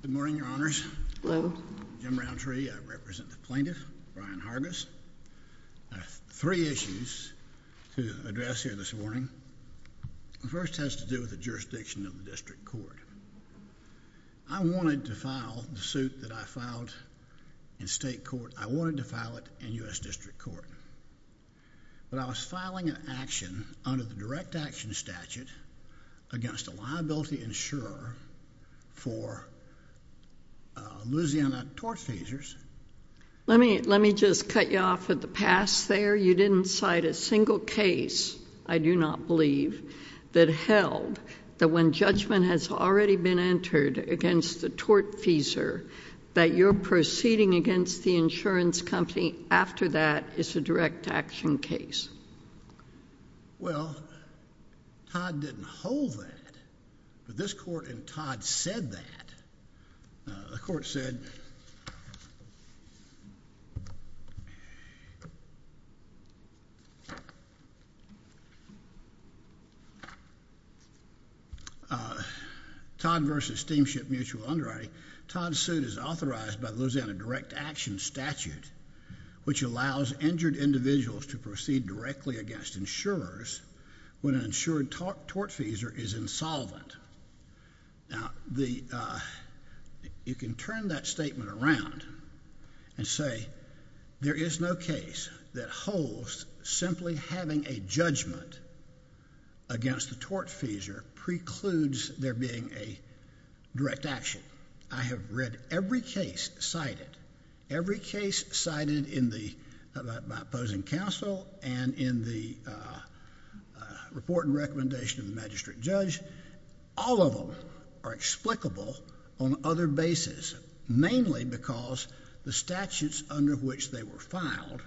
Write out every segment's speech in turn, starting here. Good morning, your honors, Jim Rountree, I represent the plaintiff, Brian Hargiss. I have three issues to address here this morning. The first has to do with the jurisdiction of the district court. I wanted to file the suit that I filed in state court, I wanted to file it in U.S. district court, but I was filing an action under the direct action statute against a liability insurer for Louisiana torch tasers. Let me just cut you off with the past there. You didn't cite a single case, I do not believe, that held that when judgment has already been entered against the torch taser that you're proceeding against the insurance company after that is a direct action case. Well, Todd didn't hold that, but this court in Todd said that. The court said, Todd v. Steamship Mutual Underwriting, Todd's suit is authorized by the Louisiana direct action statute, which allows injured individuals to proceed directly against insurers when an insured torch taser is insolvent. Now, you can turn that statement around and say there is no case that holds simply having a judgment against the torch taser precludes there being a direct action. I have read every case cited, every case cited by opposing counsel and in the report and in the presentation of the magistrate judge, all of them are explicable on other basis, mainly because the statutes under which they were filed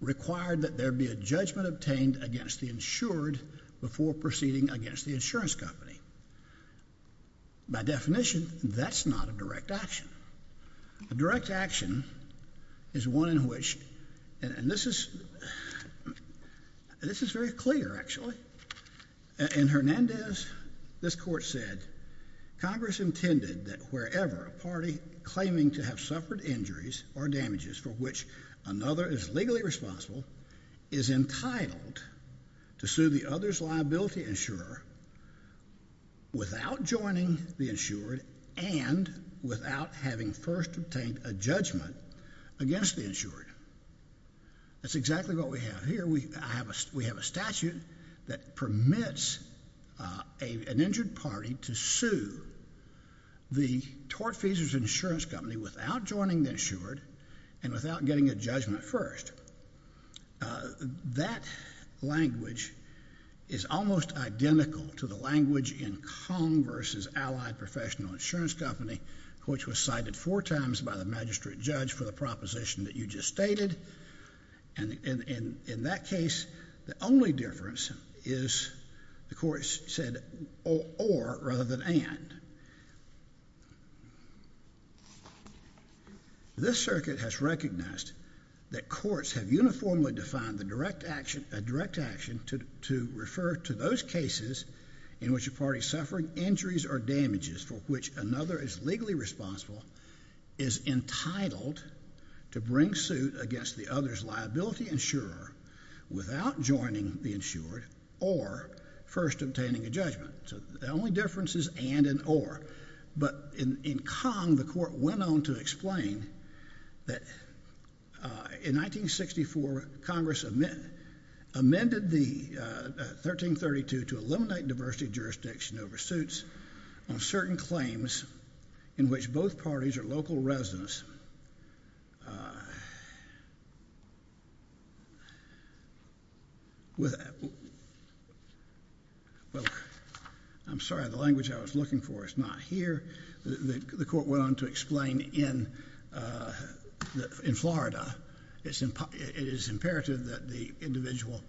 required that there be a judgment obtained against the insured before proceeding against the insurance company. By definition, that's not a direct action. A direct action is one in which, and this is very clear, actually. In Hernandez, this court said, Congress intended that wherever a party claiming to have suffered injuries or damages for which another is legally responsible is entitled to sue the other's liability insurer without joining the insured and without having first obtained a judgment against the insured. That's exactly what we have here. We have a statute that permits an injured party to sue the torch taser's insurance company without joining the insured and without getting a judgment first. That language is almost identical to the language in Congress's allied professional insurance company, which was cited four times by the magistrate judge for the proposition that you just stated, and in that case, the only difference is, the court said, or rather than and. This circuit has recognized that courts have uniformly defined a direct action to refer to those cases in which a party suffering injuries or damages for which another is legally responsible is entitled to bring suit against the other's liability insurer without joining the insured or first obtaining a judgment. So the only difference is and and or, but in Kong, the court went on to explain that in 1964, Congress amended the 1332 to eliminate diversity jurisdiction oversuits on certain claims in which both parties are local residents with, well, I'm sorry, the language I was looking for is not here. The court went on to explain in Florida, it is imperative that the individual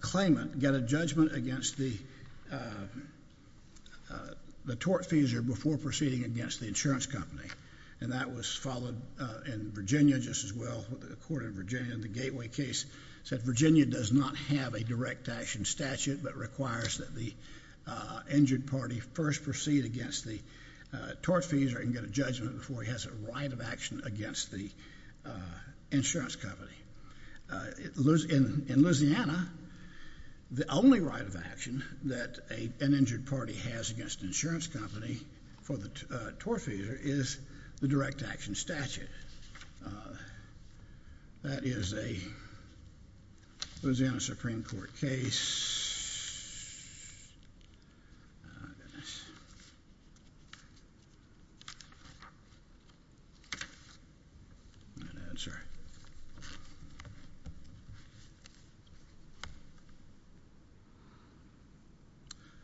claimant get a judgment against the tortfeasor before proceeding against the insurance company, and that was followed in Virginia just as well, the court in Virginia in the Gateway case said Virginia does not have a direct action statute but requires that the injured party first proceed against the tortfeasor and get a judgment before he has a right of action against the insurance company. In Louisiana, the only right of action that an injured party has against an insurance company for the tortfeasor is the direct action statute. That is a Louisiana Supreme Court case. Oh, goodness.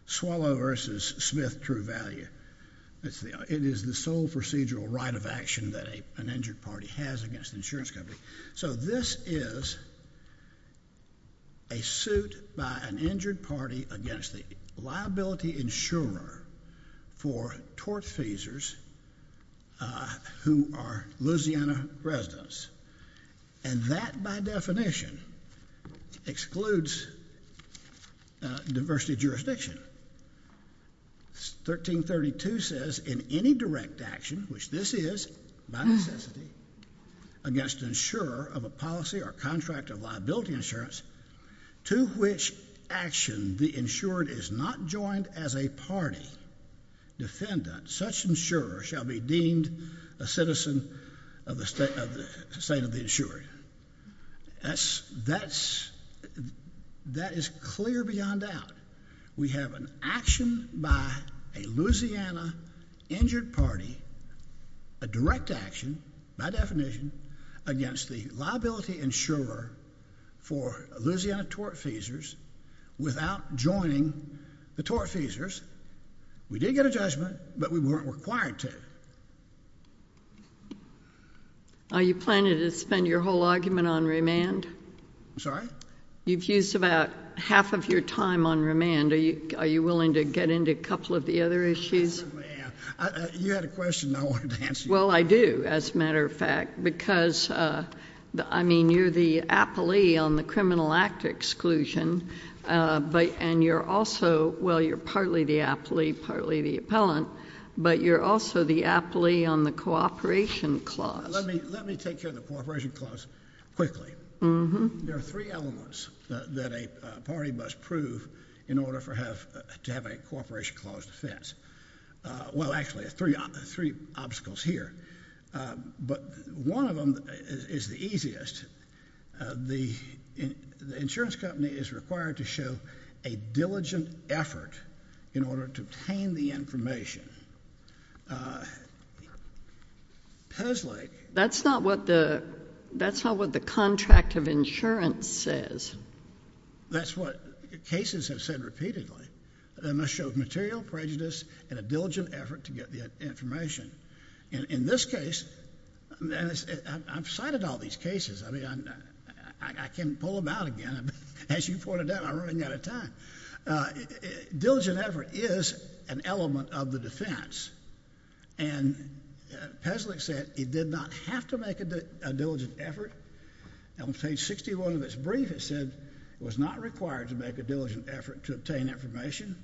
Swallow v. Smith True Value, it is the sole procedural right of action that an injured party has against an insurance company. So this is a suit by an injured party against the liability insurer for tortfeasors who are Louisiana residents, and that, by definition, excludes diversity jurisdiction. 1332 says, in any direct action, which this is by necessity, against an insurer of a policy or contract of liability insurance, to which action the insured is not joined as a party defendant, such insurer shall be deemed a citizen of the state of the insured. That is clear beyond doubt. We have an action by a Louisiana injured party, a direct action, by definition, against the liability insurer for Louisiana tortfeasors without joining the tortfeasors. We did get a judgment, but we weren't required to. Are you planning to spend your whole argument on remand? I'm sorry? You've used about half of your time on remand. Are you willing to get into a couple of the other issues? I certainly am. You had a question, and I wanted to answer you. Well, I do, as a matter of fact, because, I mean, you're the appellee on the Criminal Act Exclusion, and you're also, well, you're partly the appellee, partly the appellant, but you're also the appellee on the Cooperation Clause. Let me take care of the Cooperation Clause quickly. There are three elements that a party must prove in order to have a Cooperation Clause defense. Well, actually, there are three obstacles here, but one of them is the easiest. The insurance company is required to show a diligent effort in order to obtain the information. That's not what the contract of insurance says. That's what cases have said repeatedly. They must show material prejudice and a diligent effort to get the information. In this case, and I've cited all these cases. I mean, I can pull them out again, but as you pointed out, I'm running out of time. Diligent effort is an element of the defense, and Peslich said it did not have to make a diligent effort. On page 61 of its brief, it said it was not required to make a diligent effort to obtain information.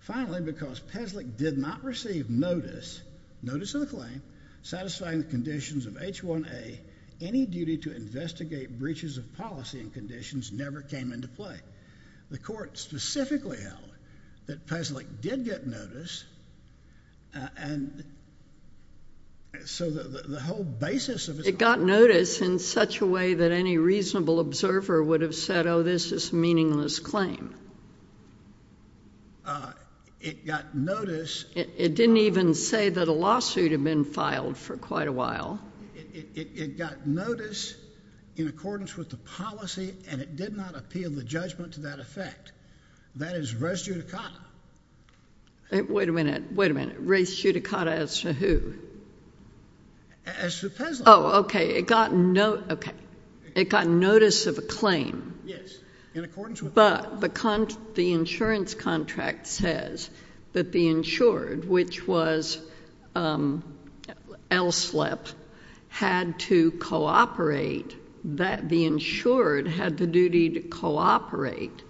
Finally, because Peslich did not receive notice, notice of the claim, satisfying the conditions of H1A, any duty to investigate breaches of policy and conditions never came into play. The court specifically held that Peslich did get notice, and so the whole basis of... It got notice in such a way that any reasonable observer would have said, oh, this is a meaningless claim. It got notice... It didn't even say that a lawsuit had been filed for quite a while. It got notice in accordance with the policy, and it did not appeal the judgment to that effect. That is res judicata. Wait a minute. Wait a minute. Res judicata as to who? As to Peslich. Oh, okay. It got notice... Okay. It got notice of a claim. Yes. In accordance with... But the insurance contract says that the insured, which was Elslep, which was the insurance had to cooperate, that the insured had the duty to cooperate,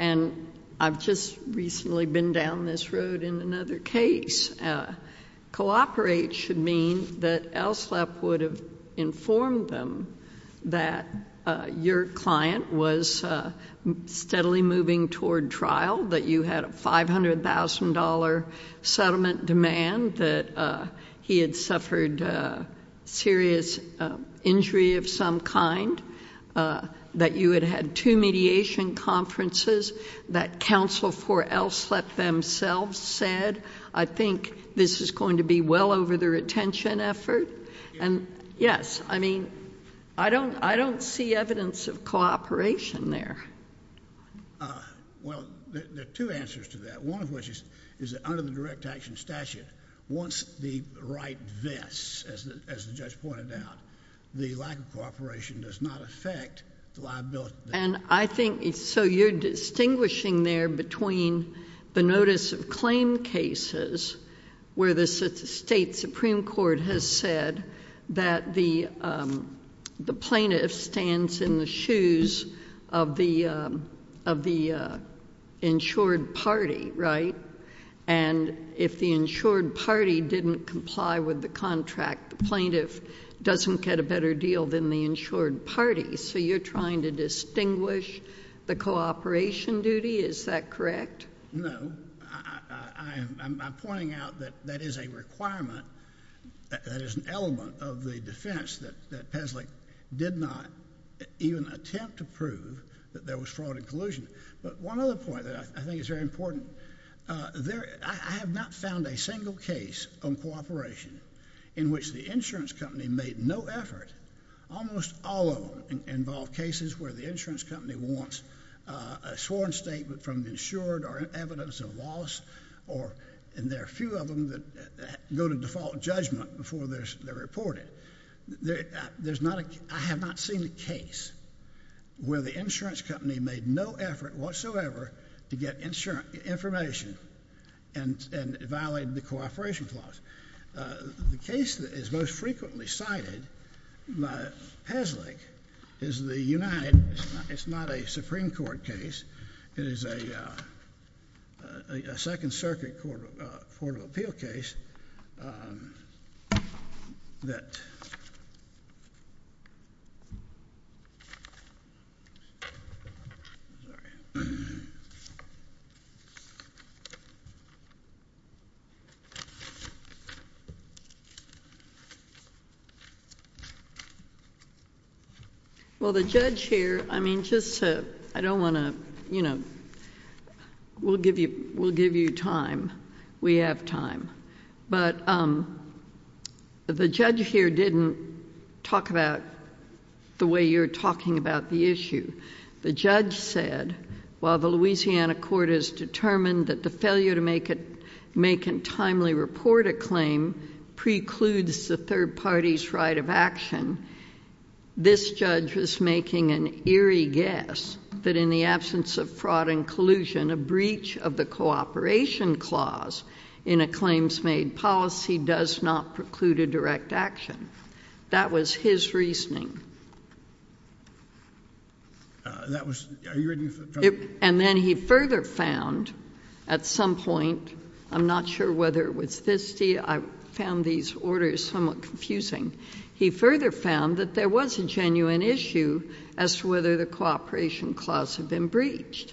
and I've just recently been down this road in another case. Cooperate should mean that Elslep would have informed them that your client was steadily moving toward trial, that you had a $500,000 settlement demand, that he had suffered serious injury of some kind, that you had had two mediation conferences, that counsel for Elslep themselves said, I think this is going to be well over the retention effort, and yes, I mean, I don't see evidence of cooperation there. Well, there are two answers to that, one of which is that under the direct action statute, once the right vests, as the judge pointed out, the lack of cooperation does not affect the liability... And I think, so you're distinguishing there between the notice of claim cases, where the state supreme court has said that the plaintiff stands in the shoes of the insured party, right? And if the insured party didn't comply with the contract, the plaintiff doesn't get a better deal than the insured party, so you're trying to distinguish the cooperation duty, is that correct? No. I'm pointing out that that is a requirement, that is an element of the defense, that Peslich did not even attempt to prove that there was fraud and collusion. But one other point that I think is very important, I have not found a single case on cooperation in which the insurance company made no effort, almost all of them involve cases where the insurance company wants a sworn statement from the insured, or evidence of loss, or... and there are a few of them that go to default judgment before they're reported. I have not seen a case where the insurance company made no effort whatsoever to get information and violated the cooperation clause. The case that is most frequently cited by Peslich is the United... it's not a Supreme Well, the judge here... I don't want to... we'll give you time. We have time. But the judge here didn't talk about the way you're talking about the issue. The judge said, while the Louisiana court has determined that the failure to make and timely report a claim precludes the third party's right of action, this judge was making an eerie guess that in the absence of fraud and collusion, a breach of the cooperation clause in a claims-made policy does not preclude a direct action. That was his reasoning. That was... are you ready for... And then he further found, at some point, I'm not sure whether it was... I found these orders somewhat confusing. He further found that there was a genuine issue as to whether the cooperation clause had been breached.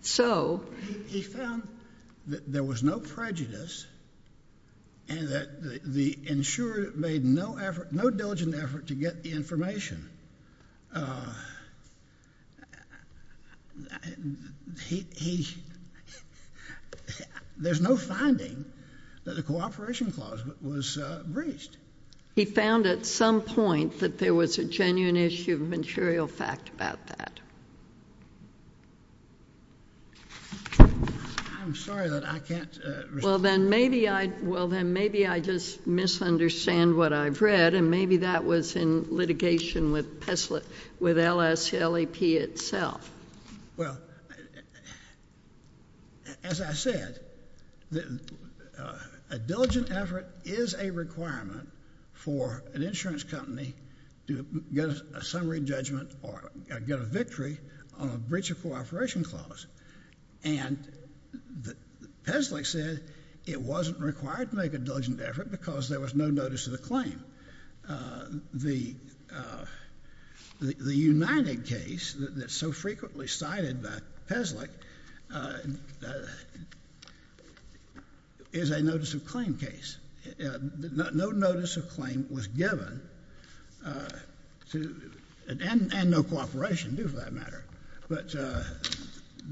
So... He found that there was no prejudice and that the insurer made no diligent effort to get the information. There's no finding that the cooperation clause was breached. He found, at some point, that there was a genuine issue of material fact about that. I'm sorry, but I can't... Well, then maybe I... well, then maybe I just misunderstand what I've read, and maybe that was in litigation with Peslik... with LSLAP itself. Well, as I said, a diligent effort is a requirement for an insurance company to get a summary judgment or get a victory on a breach of cooperation clause. And Peslik said it wasn't required to make a diligent effort because there was no notice of the claim. The United case that's so frequently cited by Peslik is a notice of claim case. No notice of claim was given to... and no cooperation, too, for that matter. But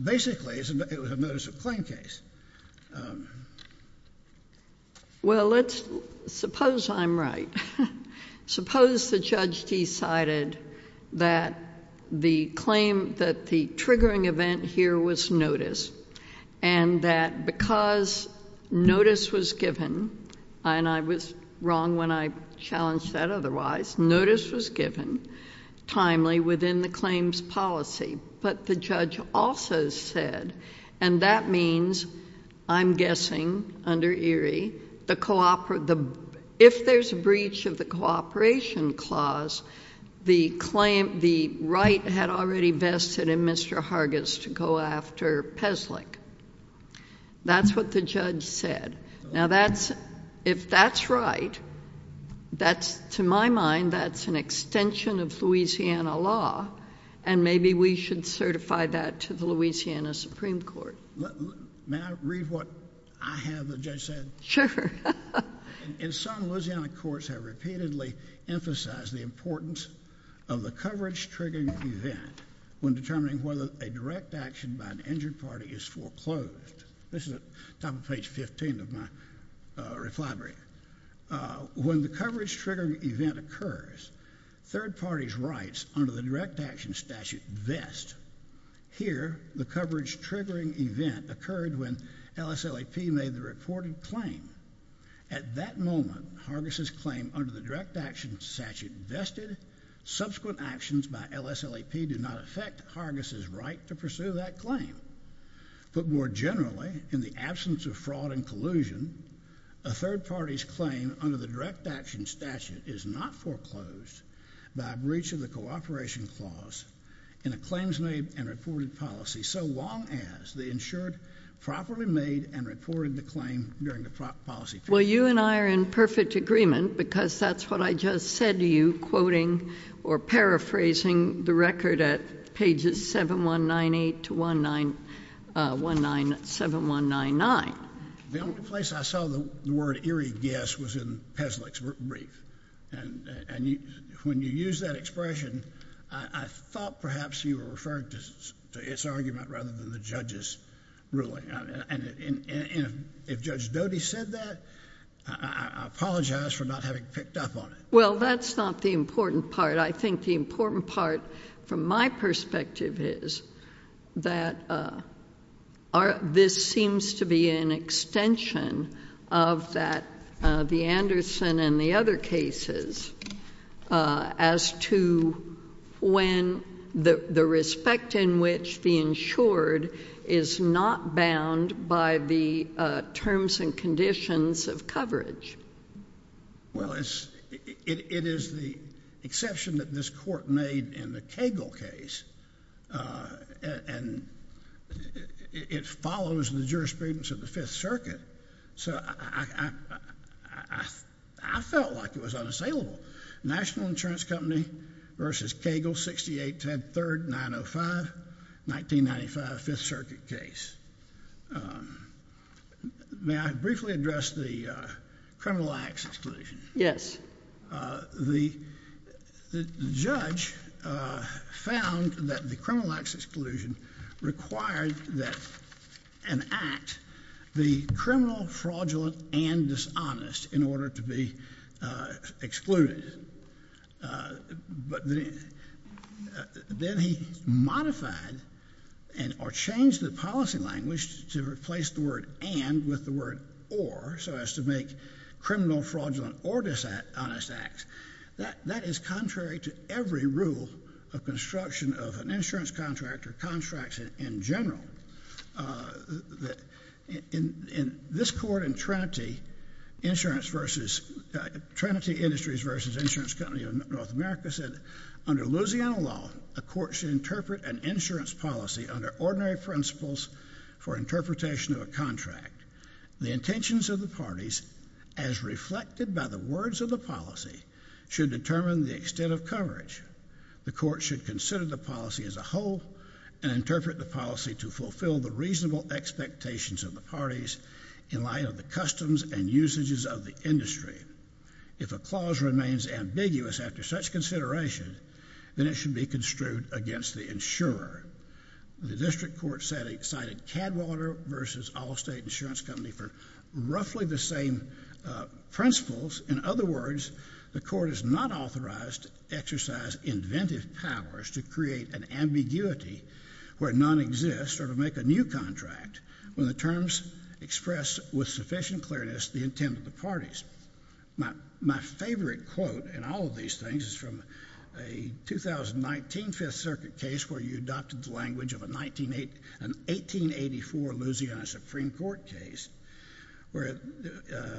basically, it was a notice of claim case. Well, let's... suppose I'm right. Suppose the judge decided that the claim... that the triggering event here was notice, and that because notice was given, and I was wrong when I challenged that otherwise. Notice was given timely within the claims policy, but the judge also said... and that means, I'm guessing, under Erie, the... if there's a breach of the cooperation clause, the claim... the right had already vested in Mr. Hargis to go after Peslik. That's what the judge said. Now that's... if that's right, that's... to my mind, that's an extension of Louisiana law, and maybe we should certify that to the Louisiana Supreme Court. May I read what I have the judge said? Sure. In some, Louisiana courts have repeatedly emphasized the importance of the coverage triggering event when determining whether a direct action by an injured party is foreclosed. This is at the top of page 15 of my reply brief. When the coverage triggering event occurs, third parties' rights under the direct action statute vest. Here, the coverage triggering event occurred when LSLAP made the reported claim. At that moment, Hargis' claim under the direct action statute vested, subsequent actions by LSLAP do not affect Hargis' right to pursue that claim, but more generally, in the absence of fraud and collusion, a third party's claim under the direct action statute is not foreclosed by breach of the cooperation clause in a claims-made and reported policy so long as the insured properly made and reported the claim during the policy period. Well, you and I are in perfect agreement because that's what I just said to you, quoting or paraphrasing the record at pages 7198 to 197199. The only place I saw the word eerie guess was in Peslich's brief, and when you used that expression, I thought perhaps you were referring to its argument rather than the judge's ruling, and if Judge Doty said that, I apologize for not having picked up on it. Well, that's not the important part. I think the important part, from my perspective, is that this seems to be an extension of that the Anderson and the other cases as to when the respect in which the insured is not bound by the terms and conditions of coverage. Well, it is the exception that this court made in the Cagle case, and it follows the jurisprudence of the Fifth Circuit, so I felt like it was unassailable. National Insurance Company v. Cagle, 68103-905, 1995, Fifth Circuit case. May I briefly address the criminal acts exclusion? Yes. The judge found that the criminal acts exclusion required that an act be criminal, fraudulent, and dishonest in order to be excluded, but then he modified or changed the policy language to replace the word and with the word or, so as to make criminal, fraudulent, or dishonest acts. That is contrary to every rule of construction of an insurance contract or contracts in general. This court in Trinity Industries v. Insurance Company of North America said under Louisiana law a court should interpret an insurance policy under ordinary principles for interpretation of a contract. The intentions of the parties as reflected by the words of the policy should determine the extent of coverage. The court should consider the policy as a whole and interpret the policy to fulfill the reasonable expectations of the parties in light of the customs and usages of the If a clause remains ambiguous after such consideration, then it should be construed against the insurer. The district court cited Cadwater v. Allstate Insurance Company for roughly the same principles. In other words, the court is not authorized to exercise inventive powers to create an ambiguity where none exists or to make a new contract when the terms express with sufficient clearness the intent of the parties. My favorite quote in all of these things is from a 2019 5th Circuit case where you adopted the language of an 1884 Louisiana Supreme Court case where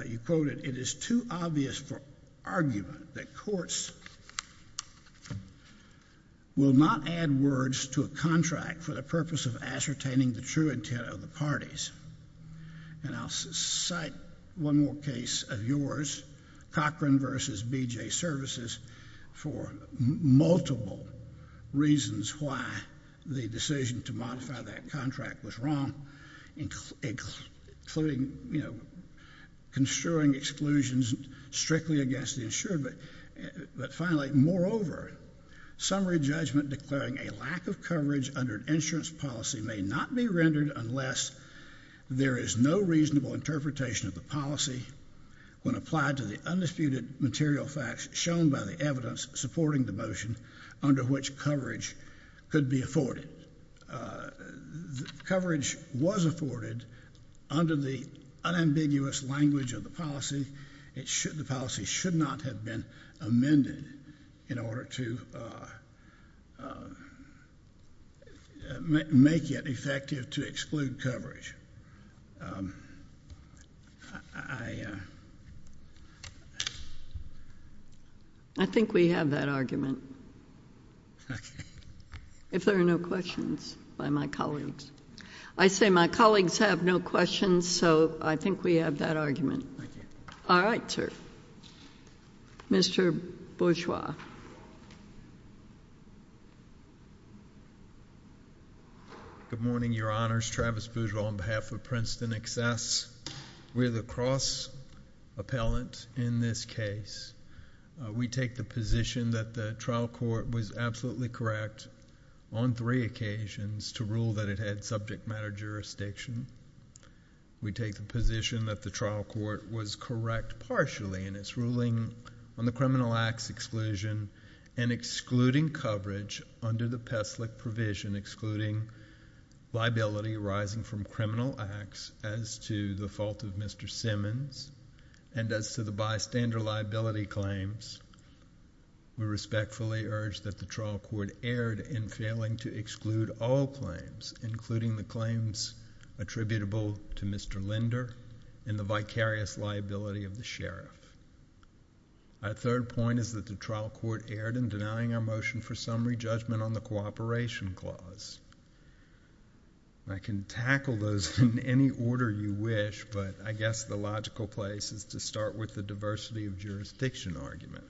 you quoted, it is too obvious for argument that courts will not add words to a contract for the purpose of ascertaining the true intent of the parties. And I'll cite one more case of yours, Cochran v. BJ Services, for multiple reasons why the decision to modify that contract was wrong, including, you know, construing exclusions strictly against the insurer, but finally, moreover, summary judgment declaring a lack of coverage under an insurance policy may not be rendered unless there is no reasonable interpretation of the policy when applied to the undisputed material facts shown by the evidence supporting the motion under which coverage could be afforded. Coverage was afforded under the unambiguous language of the policy. The policy should not have been amended in order to make it effective to exclude coverage. I think we have that argument, if there are no questions by my colleagues. I say my colleagues have no questions, so I think we have that argument. All right, sir. Mr. Bourgeois. Good morning, Your Honors. Travis Bourgeois on behalf of Princeton Excess. We're the cross-appellant in this case. We take the position that the trial court was absolutely correct on three occasions to rule that it had subject matter jurisdiction. We take the position that the trial court was correct partially in its ruling on the criminal acts exclusion and excluding coverage under the PESLIC provision, excluding liability arising from criminal acts as to the fault of Mr. Simmons and as to the bystander liability claims. We respectfully urge that the trial court erred in failing to exclude all claims, including the claims attributable to Mr. Linder and the vicarious liability of the sheriff. Our third point is that the trial court erred in denying our motion for summary judgment on the cooperation clause. I can tackle those in any order you wish, but I guess the logical place is to start with the diversity of jurisdiction argument.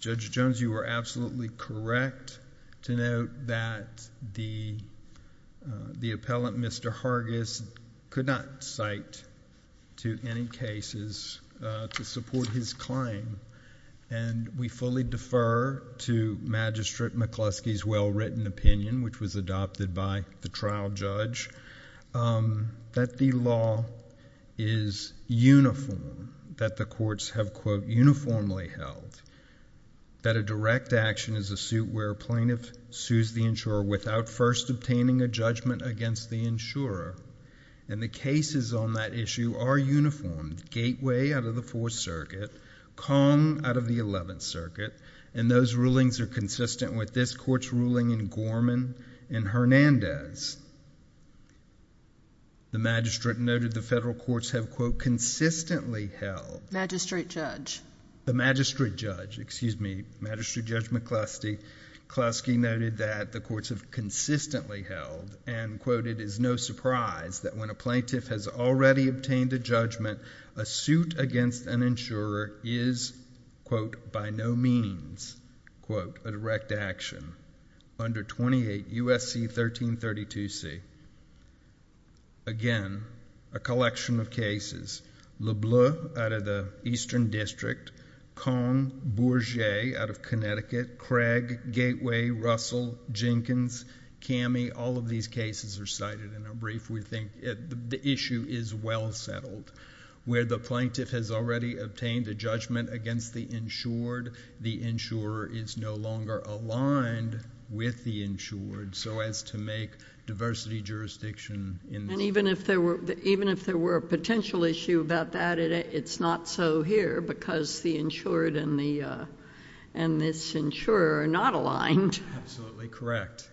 Judge Jones, you were absolutely correct to note that the appellant, Mr. Hargis, could not cite to any cases to support his claim, and we fully defer to Magistrate McCluskey's well-written opinion, which was adopted by the trial judge, that the law is uniform in that the courts have, quote, uniformly held, that a direct action is a suit where a plaintiff sues the insurer without first obtaining a judgment against the insurer, and the cases on that issue are uniformed, Gateway out of the Fourth Circuit, Kong out of the Eleventh Circuit, and those rulings are consistent with this court's ruling in Gorman and Hernandez. The magistrate noted the federal courts have, quote, consistently held. Magistrate judge. The magistrate judge, excuse me, Magistrate Judge McCluskey noted that the courts have consistently held, and, quote, it is no surprise that when a plaintiff has already obtained a judgment, a suit against an insurer is, quote, by no means, quote, a direct action under 28 U.S.C. 1332C. Again, a collection of cases, Lebleu out of the Eastern District, Kong, Bourget out of Connecticut, Craig, Gateway, Russell, Jenkins, Cammie, all of these cases are cited in a brief. We think the issue is well settled. Where the plaintiff has already obtained a judgment against the insured, the insurer is no longer aligned with the insured so as to make diversity jurisdiction in this case. Even if there were a potential issue about that, it's not so here because the insured and this insurer are not aligned. Absolutely correct.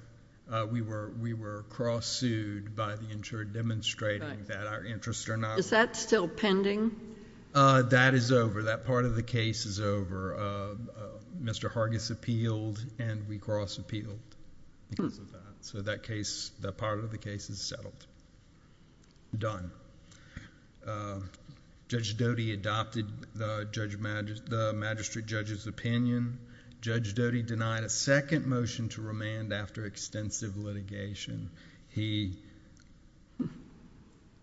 We were cross-sued by the insured demonstrating that our interests are not... Is that still pending? That is over. That part of the case is over. Mr. Hargis appealed and we cross-appealed because of that. That part of the case is settled, done. Judge Doty adopted the magistrate judge's opinion. Judge Doty denied a second motion to remand after extensive litigation. He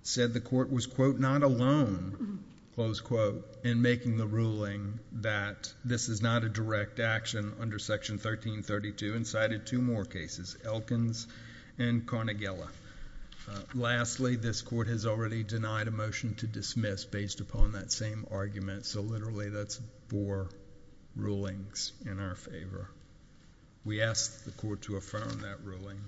said the court was, quote, not alone, close quote, in making the ruling that this is not a direct action under Section 1332 and cited two more cases, Elkins and Carnegiella. Lastly, this court has already denied a motion to dismiss based upon that same argument so literally that's four rulings in our favor. We ask the court to affirm that ruling.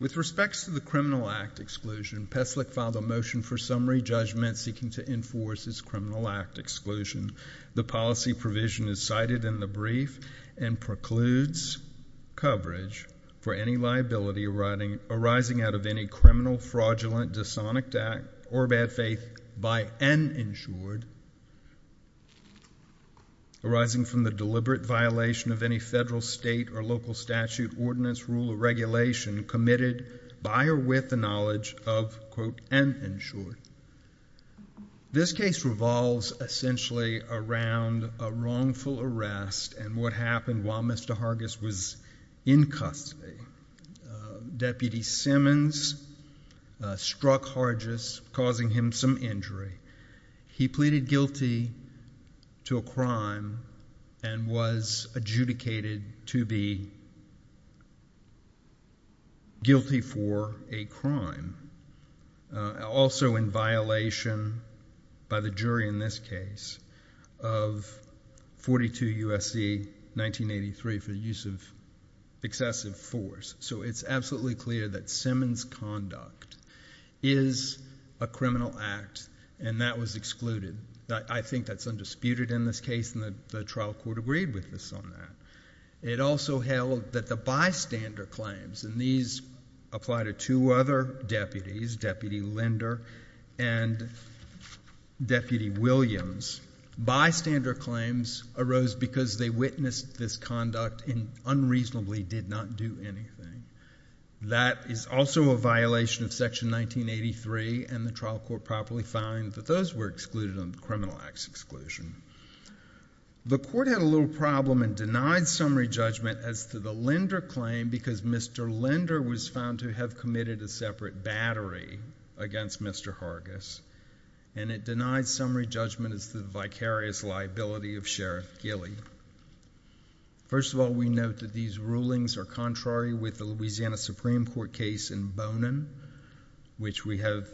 With respects to the criminal act exclusion, Pestlik filed a motion for summary judgment seeking to enforce his criminal act exclusion. The policy provision is cited in the brief and precludes coverage for any liability arising out of any criminal, fraudulent, dishonored act or bad faith by an insured arising from the deliberate violation of any federal, state, or local statute, ordinance, rule, or regulation committed by or with the knowledge of, quote, an insured. This case revolves essentially around a wrongful arrest and what happened while Mr. Hargis was in custody. Deputy Simmons struck Hargis causing him some injury. He pleaded guilty to a crime and was adjudicated to be guilty for a crime, also in violation by the jury in this case of 42 U.S.C. 1983 for use of excessive force. So it's absolutely clear that Simmons' conduct is a criminal act and that was excluded. I think that's undisputed in this case and the trial court agreed with us on that. It also held that the bystander claims, and these apply to two other deputies, Deputy Linder and Deputy Williams, bystander claims arose because they witnessed this conduct and unreasonably did not do anything. That is also a violation of section 1983 and the trial court properly found that those were excluded on the criminal acts exclusion. The court had a little problem and denied summary judgment as to the Linder claim because Mr. Linder was found to have committed a separate battery against Mr. Hargis and it denied summary judgment as to the vicarious liability of Sheriff Gilley. First of all, we note that these rulings are contrary with the Louisiana Supreme Court case in Bonin, which we have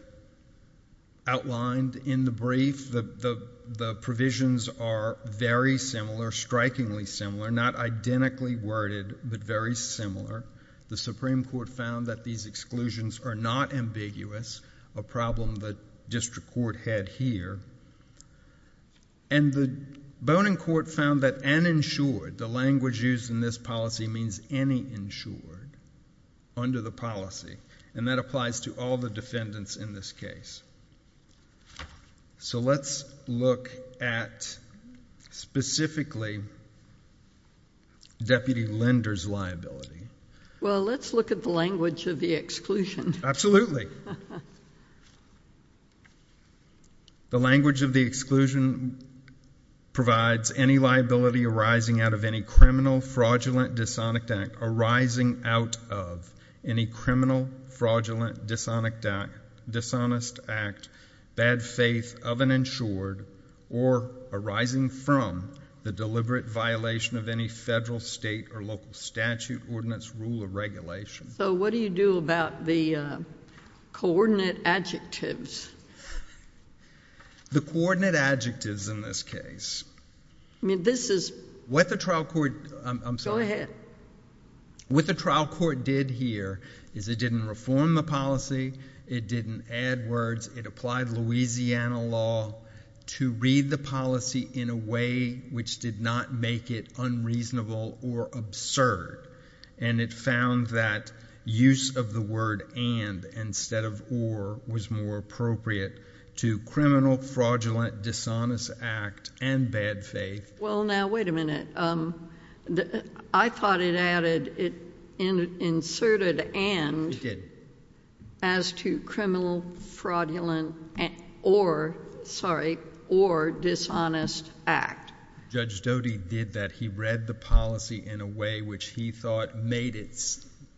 outlined in the brief. The provisions are very similar, strikingly similar, not identically worded but very similar. The Supreme Court found that these exclusions are not ambiguous, a problem that district court had here. And the Bonin court found that uninsured, the language used in this policy means any insured under the policy and that applies to all the defendants in this case. So let's look at specifically Deputy Linder's liability. Well let's look at the language of the exclusion. Absolutely. The language of the exclusion provides any liability arising out of any criminal, fraudulent, dishonest act arising out of any criminal, fraudulent, dishonest act, bad faith of an insured or arising from the deliberate violation of any federal, state, or local statute, ordinance, rule, or regulation. So what do you do about the coordinate adjectives? The coordinate adjectives in this case, what the trial court did here is it didn't reform the policy, it didn't add words, it applied Louisiana law to read the policy in a way which did not make it unreasonable or absurd and it found that use of the word and instead of or was more appropriate to criminal, fraudulent, dishonest act and bad faith. Well now wait a minute, I thought it added, it inserted and as to criminal, fraudulent, or sorry, or dishonest act. Judge Doty did that, he read the policy in a way which he thought made it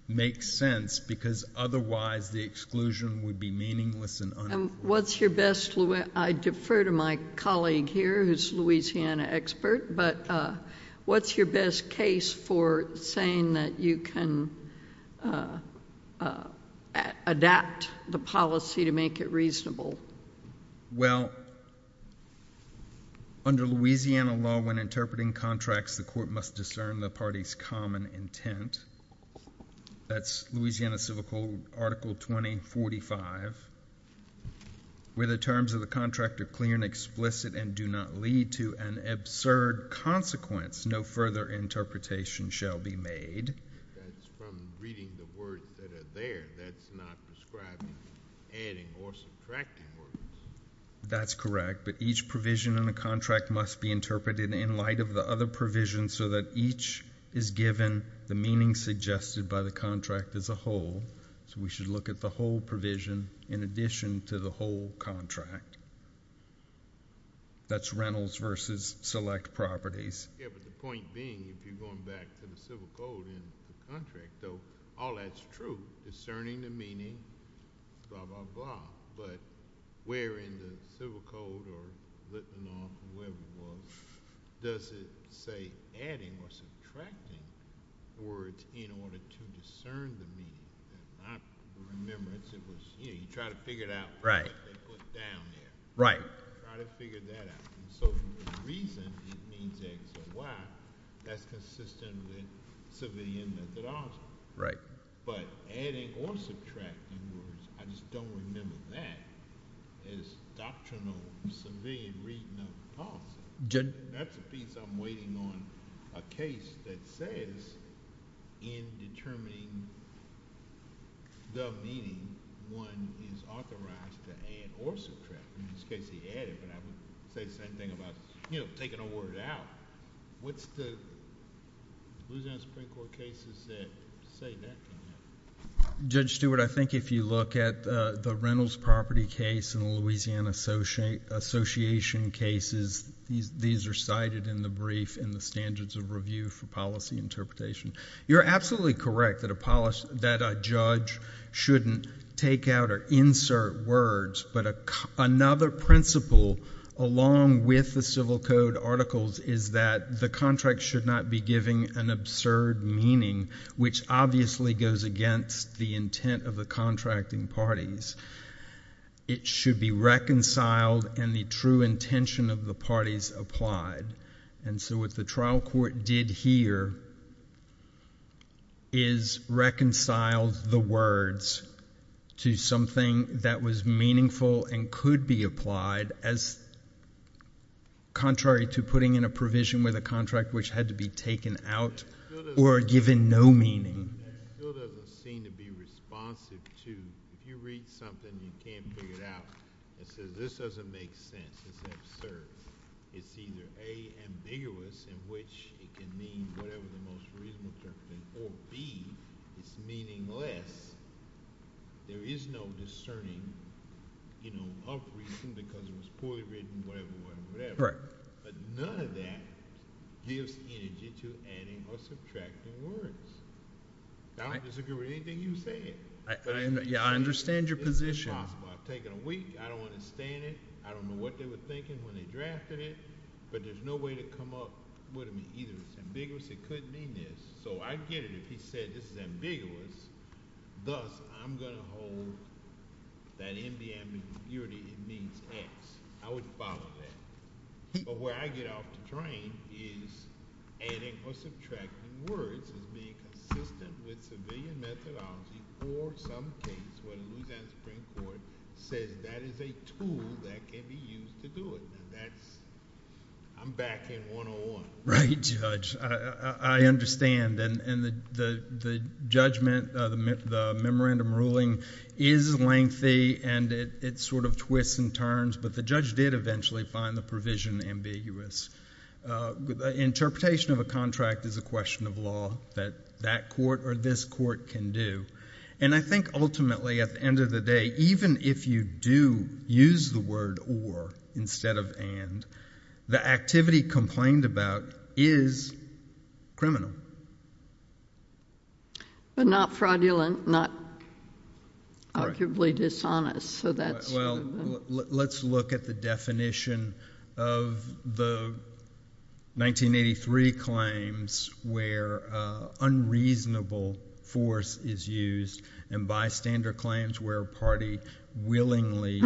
make sense because otherwise the exclusion would be meaningless and unimportant. What's your best, I defer to my colleague here who's a Louisiana expert, but what's your best case for saying that you can adapt the policy to make it reasonable? Well, under Louisiana law when interpreting contracts, the court must discern the party's common intent. That's Louisiana Civil Code Article 2045 where the terms of the contract are clear and explicit and do not lead to an absurd consequence. No further interpretation shall be made. That's from reading the words that are there, that's not prescribing adding or subtracting words. That's correct, but each provision in the contract must be interpreted in light of the other provisions so that each is given the meaning suggested by the contract as a whole. So we should look at the whole provision in addition to the whole contract. That's rentals versus select properties. Yeah, but the point being if you're going back to the Civil Code in the contract, though, all that's true, discerning the meaning, blah, blah, blah, but where in the Civil Code or Litmanoff or whoever it was, does it say adding or subtracting words in order to discern the meaning? Not the remembrance, it was, you know, you try to figure it out. Right. What they put down there. Right. You try to figure that out. So the reason it means X or Y, that's consistent with civilian methodology. Right. But adding or subtracting words, I just don't remember that as doctrinal civilian reading of the policy. That defeats I'm waiting on a case that says in determining the meaning, one is authorized to add or subtract. In this case, he added, but I would say the same thing about taking a word out. What's the Louisiana Supreme Court cases that say that? Judge Stewart, I think if you look at the rentals property case and the Louisiana Association cases, these are cited in the brief in the Standards of Review for Policy Interpretation. You're absolutely correct that a judge shouldn't take out or insert words, but another principle along with the civil code articles is that the contract should not be giving an absurd meaning, which obviously goes against the intent of the contracting parties. It should be reconciled and the true intention of the parties applied. What the trial court did here is reconciled the words to something that was meaningful and could be applied as contrary to putting in a provision with a contract which had to be taken out or given no meaning. It doesn't seem to be responsive to if you read something and you can't figure it out, it says this doesn't make sense, it's absurd. It says it's either A, ambiguous in which it can mean whatever the most reasonable term can be, or B, it's meaningless. There is no discerning of reason because it was poorly written, whatever, whatever, whatever. Right. But none of that gives energy to adding or subtracting words. I don't disagree with anything you said. Yeah, I understand your position. It's impossible. I've taken a week. I don't understand it. I don't know what they were thinking when they drafted it, but there's no way to come up with either it's ambiguous, it could mean this. So I get it if he said this is ambiguous, thus I'm going to hold that in the ambiguity it means X. I would follow that. But where I get off the train is adding or subtracting words is being consistent with civilian methodology for some case where the Louisiana Supreme Court says that is a tool that can be used to do it. And that's, I'm back in 101. Right, Judge. I understand. And the judgment, the memorandum ruling is lengthy and it sort of twists and turns, but the judge did eventually find the provision ambiguous. Interpretation of a contract is a question of law that that court or this court can do. And I think ultimately at the end of the day, even if you do use the word or instead of and, the activity complained about is criminal. But not fraudulent, not arguably dishonest. Well, let's look at the definition of the 1983 claims where unreasonable force is used and bystander claims where a party willingly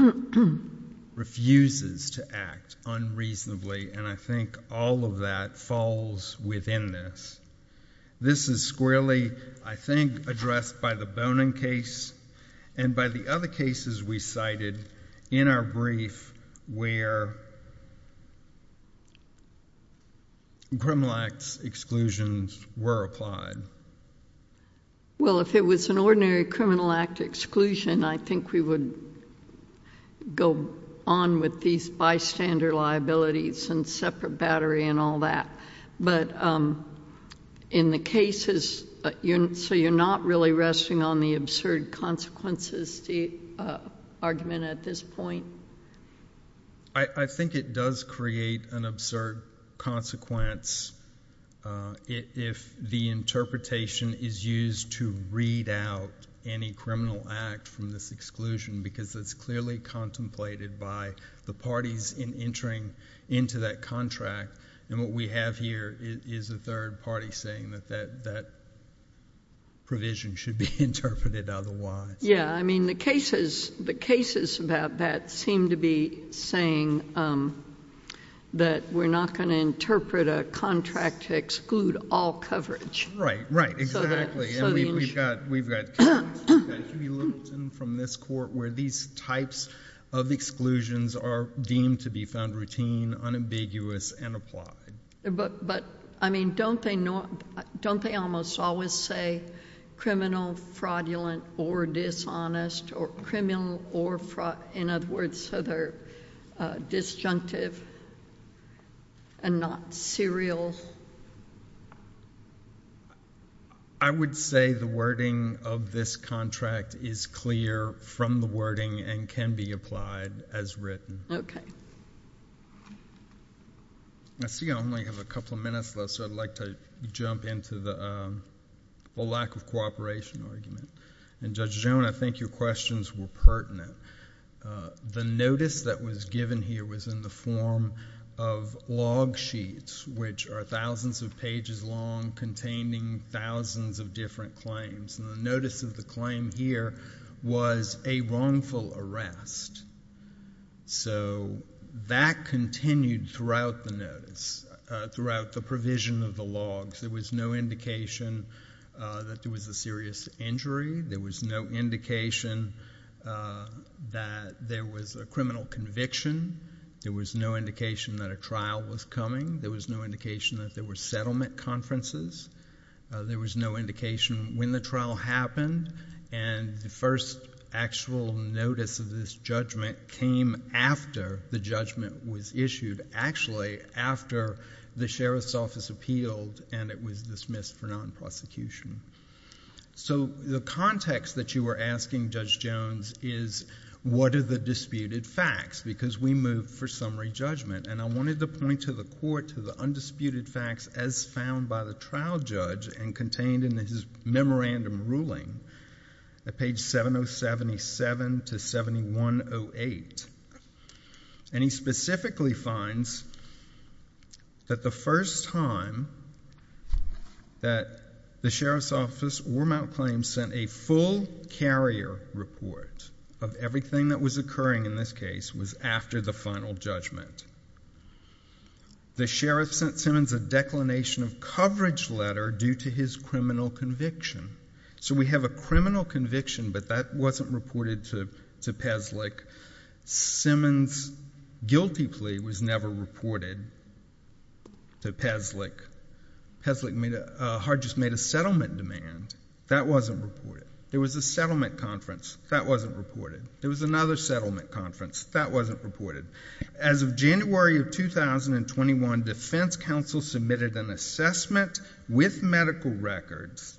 refuses to act unreasonably. And I think all of that falls within this. This is squarely, I think, addressed by the Bonin case and by the other cases we cited in our brief where criminal acts exclusions were applied. Well, if it was an ordinary criminal act exclusion, I think we would go on with these bystander liabilities and separate battery and all that. But in the cases, so you're not really resting on the absurd consequences argument at this point? I think it does create an absurd consequence if the interpretation is used to read out any criminal act from this exclusion because it's clearly contemplated by the parties in that contract and what we have here is a third party saying that that provision should be interpreted otherwise. Yeah, I mean the cases about that seem to be saying that we're not going to interpret a contract to exclude all coverage. Right, right, exactly. We've got Huey Littleton from this court where these types of exclusions are deemed to be found routine, unambiguous, and applied. But, I mean, don't they almost always say criminal, fraudulent, or dishonest, or criminal, or fraud, in other words, so they're disjunctive and not serial? I would say the wording of this contract is clear from the wording and can be applied as written. I see I only have a couple of minutes left, so I'd like to jump into the lack of cooperation argument. And Judge Joan, I think your questions were pertinent. The notice that was given here was in the form of log sheets which are thousands of pages long containing thousands of different claims. And the notice of the claim here was a wrongful arrest. So that continued throughout the notice, throughout the provision of the logs. There was no indication that there was a serious injury. There was no indication that there was a criminal conviction. There was no indication that a trial was coming. There was no indication that there were settlement conferences. There was no indication when the trial happened. And the first actual notice of this judgment came after the judgment was issued, actually after the Sheriff's Office appealed and it was dismissed for non-prosecution. So the context that you were asking, Judge Jones, is what are the disputed facts, because we moved for summary judgment. And I wanted to point to the court to the undisputed facts as found by the trial judge and contained in his memorandum ruling at page 7077 to 7108. And he specifically finds that the first time that the Sheriff's Office or Mount Claims sent a full carrier report of everything that was occurring in this case was after the final judgment. The Sheriff sent Simmons a declination of coverage letter due to his criminal conviction. So we have a criminal conviction, but that wasn't reported to Peslich. Simmons' guilty plea was never reported to Peslich. Peslich made a settlement demand. That wasn't reported. There was a settlement conference. That wasn't reported. There was another settlement conference. That wasn't reported. As of January of 2021, Defense Counsel submitted an assessment with medical records,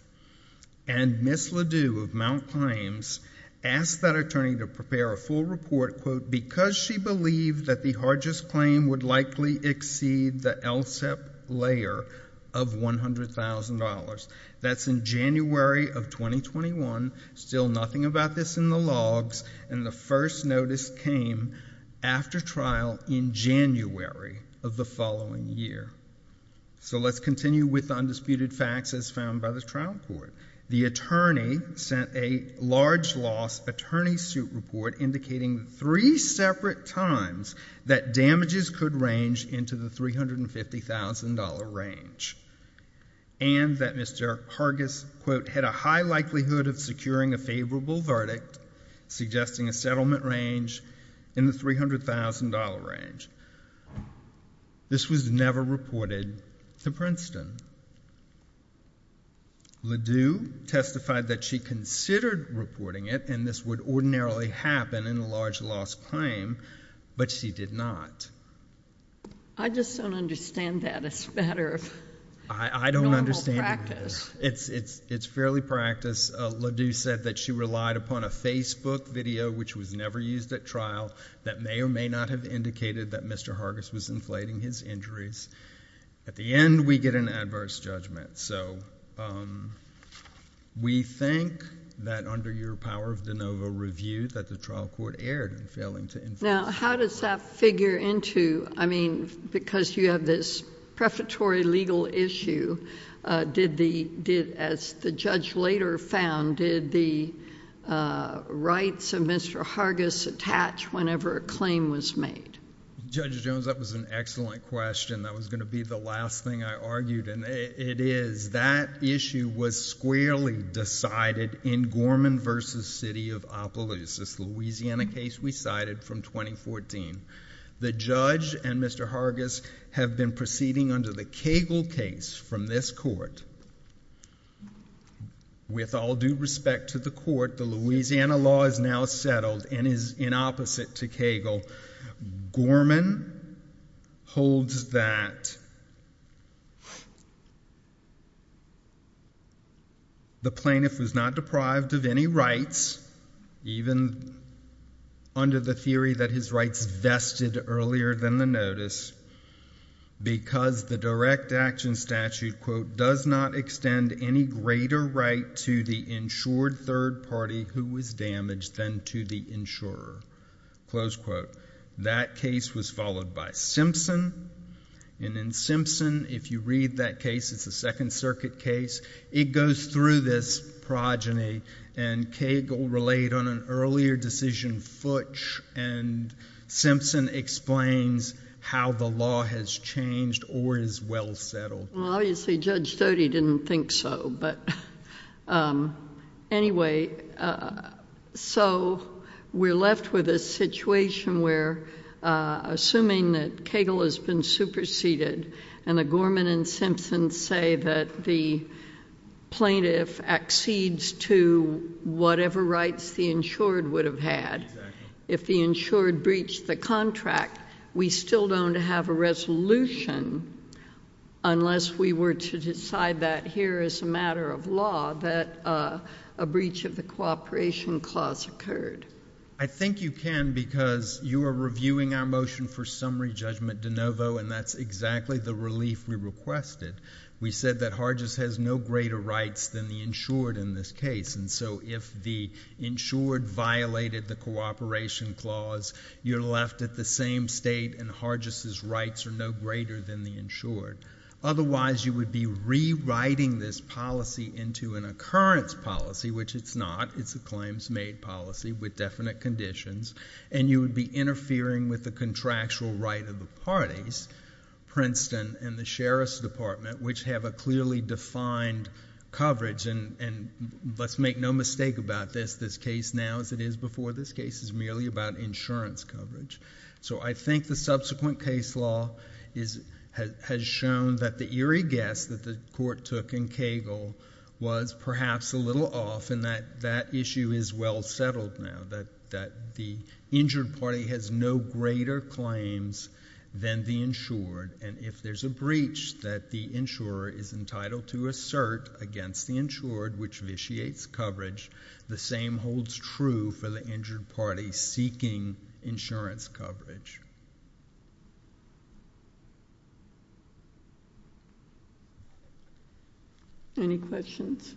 and Ms. Ledoux of Mount Claims asked that attorney to prepare a full report, quote, because she believed that the hardest claim would likely exceed the LSEP layer of $100,000. That's in January of 2021. Still nothing about this in the logs. And the first notice came after trial in January of the following year. So let's continue with the undisputed facts as found by the trial court. The attorney sent a large loss attorney suit report indicating three separate times that damages could range into the $350,000 range and that Mr. Hargis, quote, had a high likelihood of securing a favorable verdict suggesting a settlement range in the $300,000 range. This was never reported to Princeton. Ledoux testified that she considered reporting it and this would ordinarily happen in a large loss claim, but she did not. I just don't understand that. It's a matter of normal practice. I don't understand either. It's fairly practice. Ledoux said that she relied upon a Facebook video, which was never used at trial, that may or may not have indicated that Mr. Hargis was inflating his injuries. At the end, we get an adverse judgment. So we think that under your power of de novo review that the trial court erred in failing to inflate his injuries. Now, how does that figure into, I mean, because you have this prefatory legal issue, as the judge later found, did the rights of Mr. Hargis attach whenever a claim was made? Judge Jones, that was an excellent question. That was going to be the last thing I argued, and it is. That issue was squarely decided in Gorman v. City of Appaloosa. It's the Louisiana case we cited from 2014. The judge and Mr. Hargis have been proceeding under the Cagle case from this court. With all due respect to the court, the Louisiana law is now settled and is in opposite to Cagle. Gorman holds that the plaintiff was not deprived of any rights, even under the theory that his rights vested earlier than the notice, because the direct action statute, quote, does not extend any greater right to the insured third party who was damaged than to the insurer. Close quote. That case was followed by Simpson. And in Simpson, if you read that case, it's a Second Circuit case. It goes through this progeny, and Cagle relayed on an earlier decision, Futch, and Simpson explains how the law has changed or is well settled. Well, obviously Judge Stoddard didn't think so, but anyway, so we're left with a situation where, assuming that Cagle has been superseded and the Gorman and Simpson say that the plaintiff accedes to whatever rights the insured would have had, if the insured breached the contract, we still don't have a resolution, unless we were to decide that here as a matter of law that a breach of the cooperation clause occurred. I think you can because you are reviewing our motion for summary judgment de novo, and that's exactly the relief we requested. We said that Hargis has no greater rights than the insured in this case, and so if the insured violated the cooperation clause, you're left at the same state, and Hargis's rights are no greater than the insured. Otherwise, you would be rewriting this policy into an occurrence policy, which it's not. It's a claims-made policy with definite conditions, and you would be interfering with the contractual right of the parties, Princeton and the Sheriff's Department, which have a clearly defined coverage, and let's make no mistake about this, this case now as it is before this case is merely about insurance coverage. So I think the subsequent case law has shown that the eerie guess that the court took in Cagle was perhaps a little off and that issue is well settled now, that the injured party has no greater claims than the insured, and if there's a breach that the insurer is entitled to assert against the insured, which vitiates coverage, the same holds true for the injured party seeking insurance coverage. Any questions?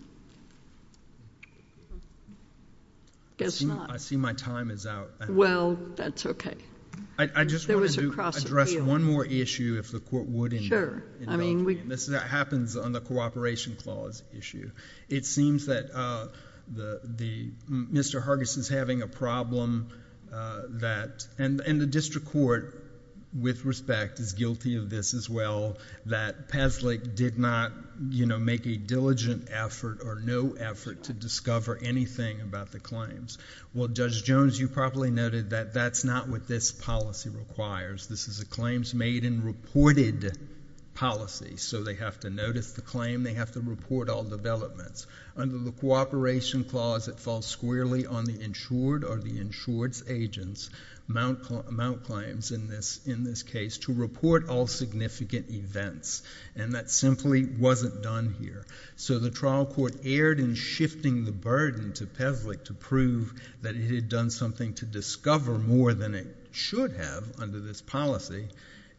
I see my time is out. Well, that's okay. I just wanted to address one more issue if the court would indulge me, and this happens on the cooperation clause issue. It seems that Mr. Hargis is having a problem, and the district court, with respect, is guilty of this as well, that Pavlik did not make a diligent effort or no effort to discover anything about the claims. Well, Judge Jones, you probably noted that that's not what this policy requires. This is a claims-made and reported policy, so they have to notice the claim. They have to report all developments. Under the cooperation clause, it falls squarely on the insured or the insured's agents' mount claims in this case to report all significant events, and that simply wasn't done here. So the trial court erred in shifting the burden to Pavlik to prove that it had done something to discover more than it should have under this policy,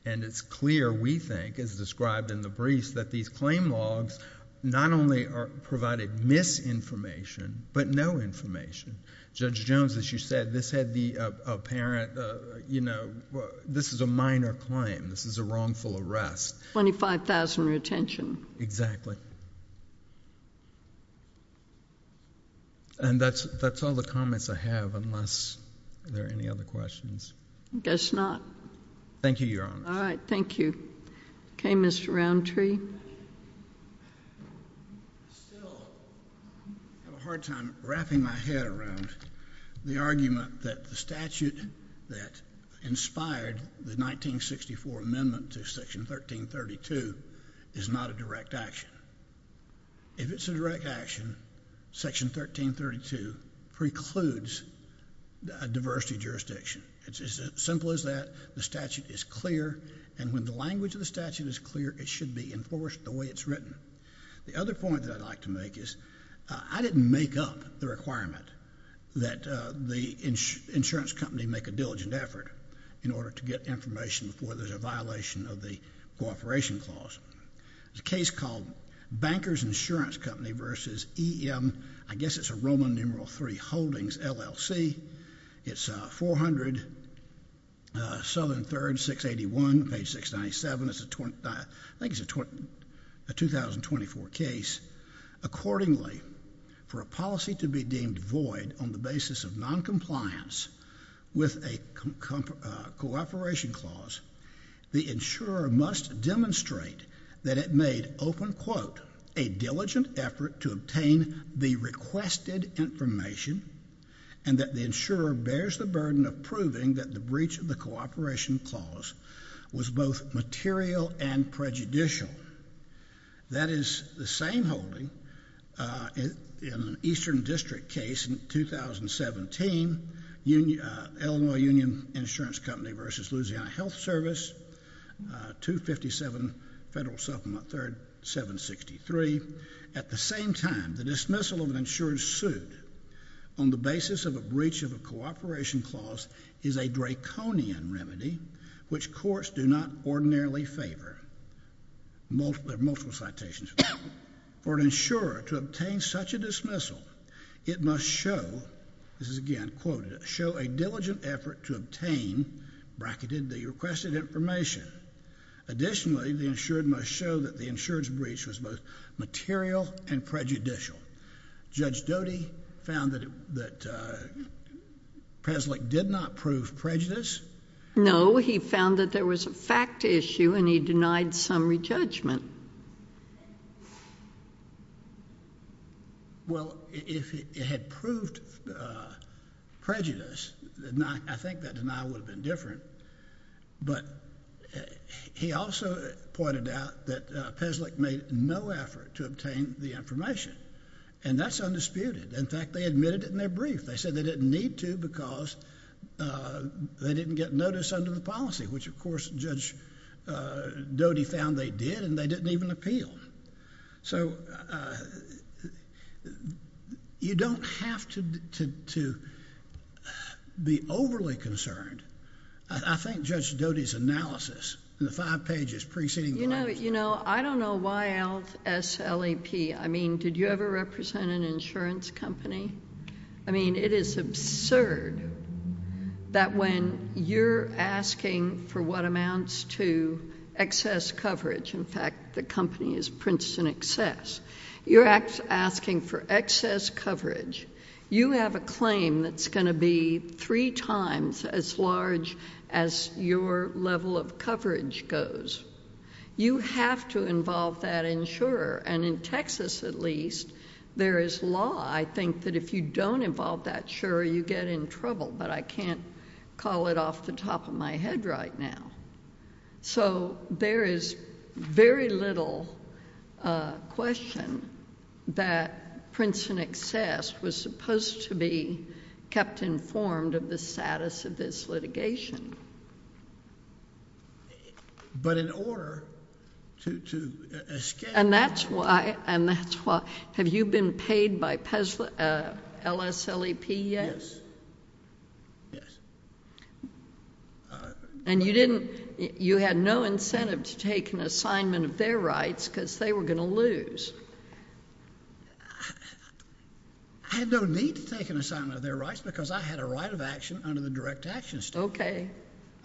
and it's clear, we think, as described in the briefs, that these claim logs not only provided misinformation but no information. Judge Jones, as you said, this is a minor claim. This is a wrongful arrest. Twenty-five thousand retention. Exactly. And that's all the comments I have unless there are any other questions. I guess not. Thank you, Your Honor. All right. Thank you. Okay, Mr. Roundtree. I still have a hard time wrapping my head around the argument that the statute that inspired the 1964 amendment to Section 1332 is not a direct action. If it's a direct action, Section 1332 precludes a diversity jurisdiction. It's as simple as that. The statute is clear. And when the language of the statute is clear, it should be enforced the way it's written. The other point that I'd like to make is I didn't make up the requirement that the insurance company make a diligent effort in order to get information before there's a violation of the cooperation clause. There's a case called Bankers Insurance Company v. E.M. I guess it's a Roman numeral III Holdings LLC. It's 400 Southern 3rd, 681, page 697. I think it's a 2024 case. Accordingly, for a policy to be deemed void on the basis of noncompliance with a cooperation clause, the insurer must demonstrate that it made, open quote, a diligent effort to obtain the requested information and that the insurer bears the burden of proving that the breach of the cooperation clause was both material and prejudicial. That is the same holding in an Eastern District case in 2017, Illinois Union Insurance Company v. Louisiana Health Service, 257 Federal Supplement 3rd, 763. At the same time, the dismissal of an insurer sued on the basis of a breach of a cooperation clause is a draconian remedy which courts do not ordinarily favor. There are multiple citations. For an insurer to obtain such a dismissal, it must show, this is again quoted, show a diligent effort to obtain bracketed the requested information. Additionally, the insured must show that the insured's breach was both material and prejudicial. Judge Doty found that Peslick did not prove prejudice. No, he found that there was a fact issue and he denied summary judgment. Well, if it had proved prejudice, I think that denial would have been different. But he also pointed out that Peslick made no effort to obtain the information. And that's undisputed. In fact, they admitted it in their brief. They said they didn't need to because they didn't get notice under the policy, which of course Judge Doty found they did and they didn't even appeal. So, you don't have to be overly concerned. I think Judge Doty's analysis in the five pages preceding... You know, I don't know why else SLAP. I mean, did you ever represent an insurance company? I mean, it is absurd that when you're asking for what amounts to excess coverage, in fact, the company is Princeton Excess, you're asking for excess coverage. You have a claim that's going to be three times as large as your level of coverage goes. You have to involve that insurer. And in Texas, at least, there is law. I think that if you don't involve that insurer, you get in trouble. But I can't call it off the top of my head right now. So, there is very little question that Princeton Excess was supposed to be kept informed of the status of this litigation. But in order to escape... And that's why... Have you been paid by LSLEP yet? Yes. Yes. And you didn't... you had no incentive to take an assignment of their rights because they were going to lose. I had no need to take an assignment of their rights because I had a right of action under the direct action statute. Okay.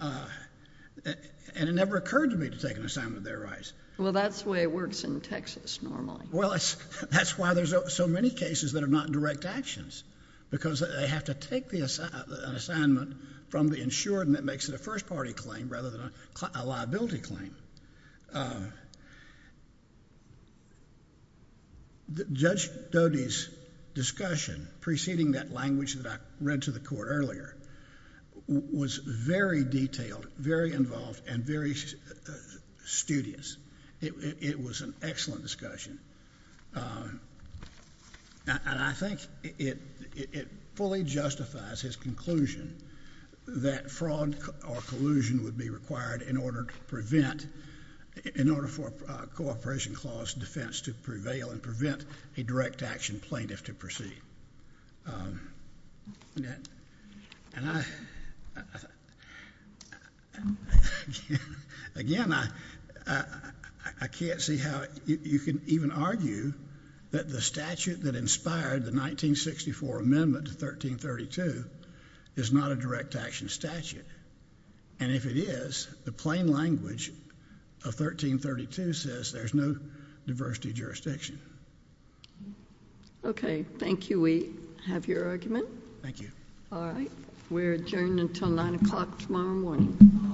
And it never occurred to me to take an assignment of their rights. Well, that's the way it works in Texas normally. Well, that's why there's so many cases that are not in direct actions. Because they have to take an assignment from the insurer and that makes it a first-party claim rather than a liability claim. Judge Dody's discussion preceding that language that I read to the Court earlier was very detailed, very involved, and very studious. It was an excellent discussion. And I think it fully justifies his conclusion that fraud or collusion would be required in order to prevent... in order for a cooperation clause defense to prevail and prevent a direct action plaintiff to proceed. And I... again, I can't see how you can even argue that the statute that inspired the 1964 amendment to 1332 is not a direct action statute. And if it is, the plain language of 1332 says there's no diversity jurisdiction. Okay. Thank you. We have your argument. Thank you. All right. We're adjourned until 9 o'clock tomorrow morning.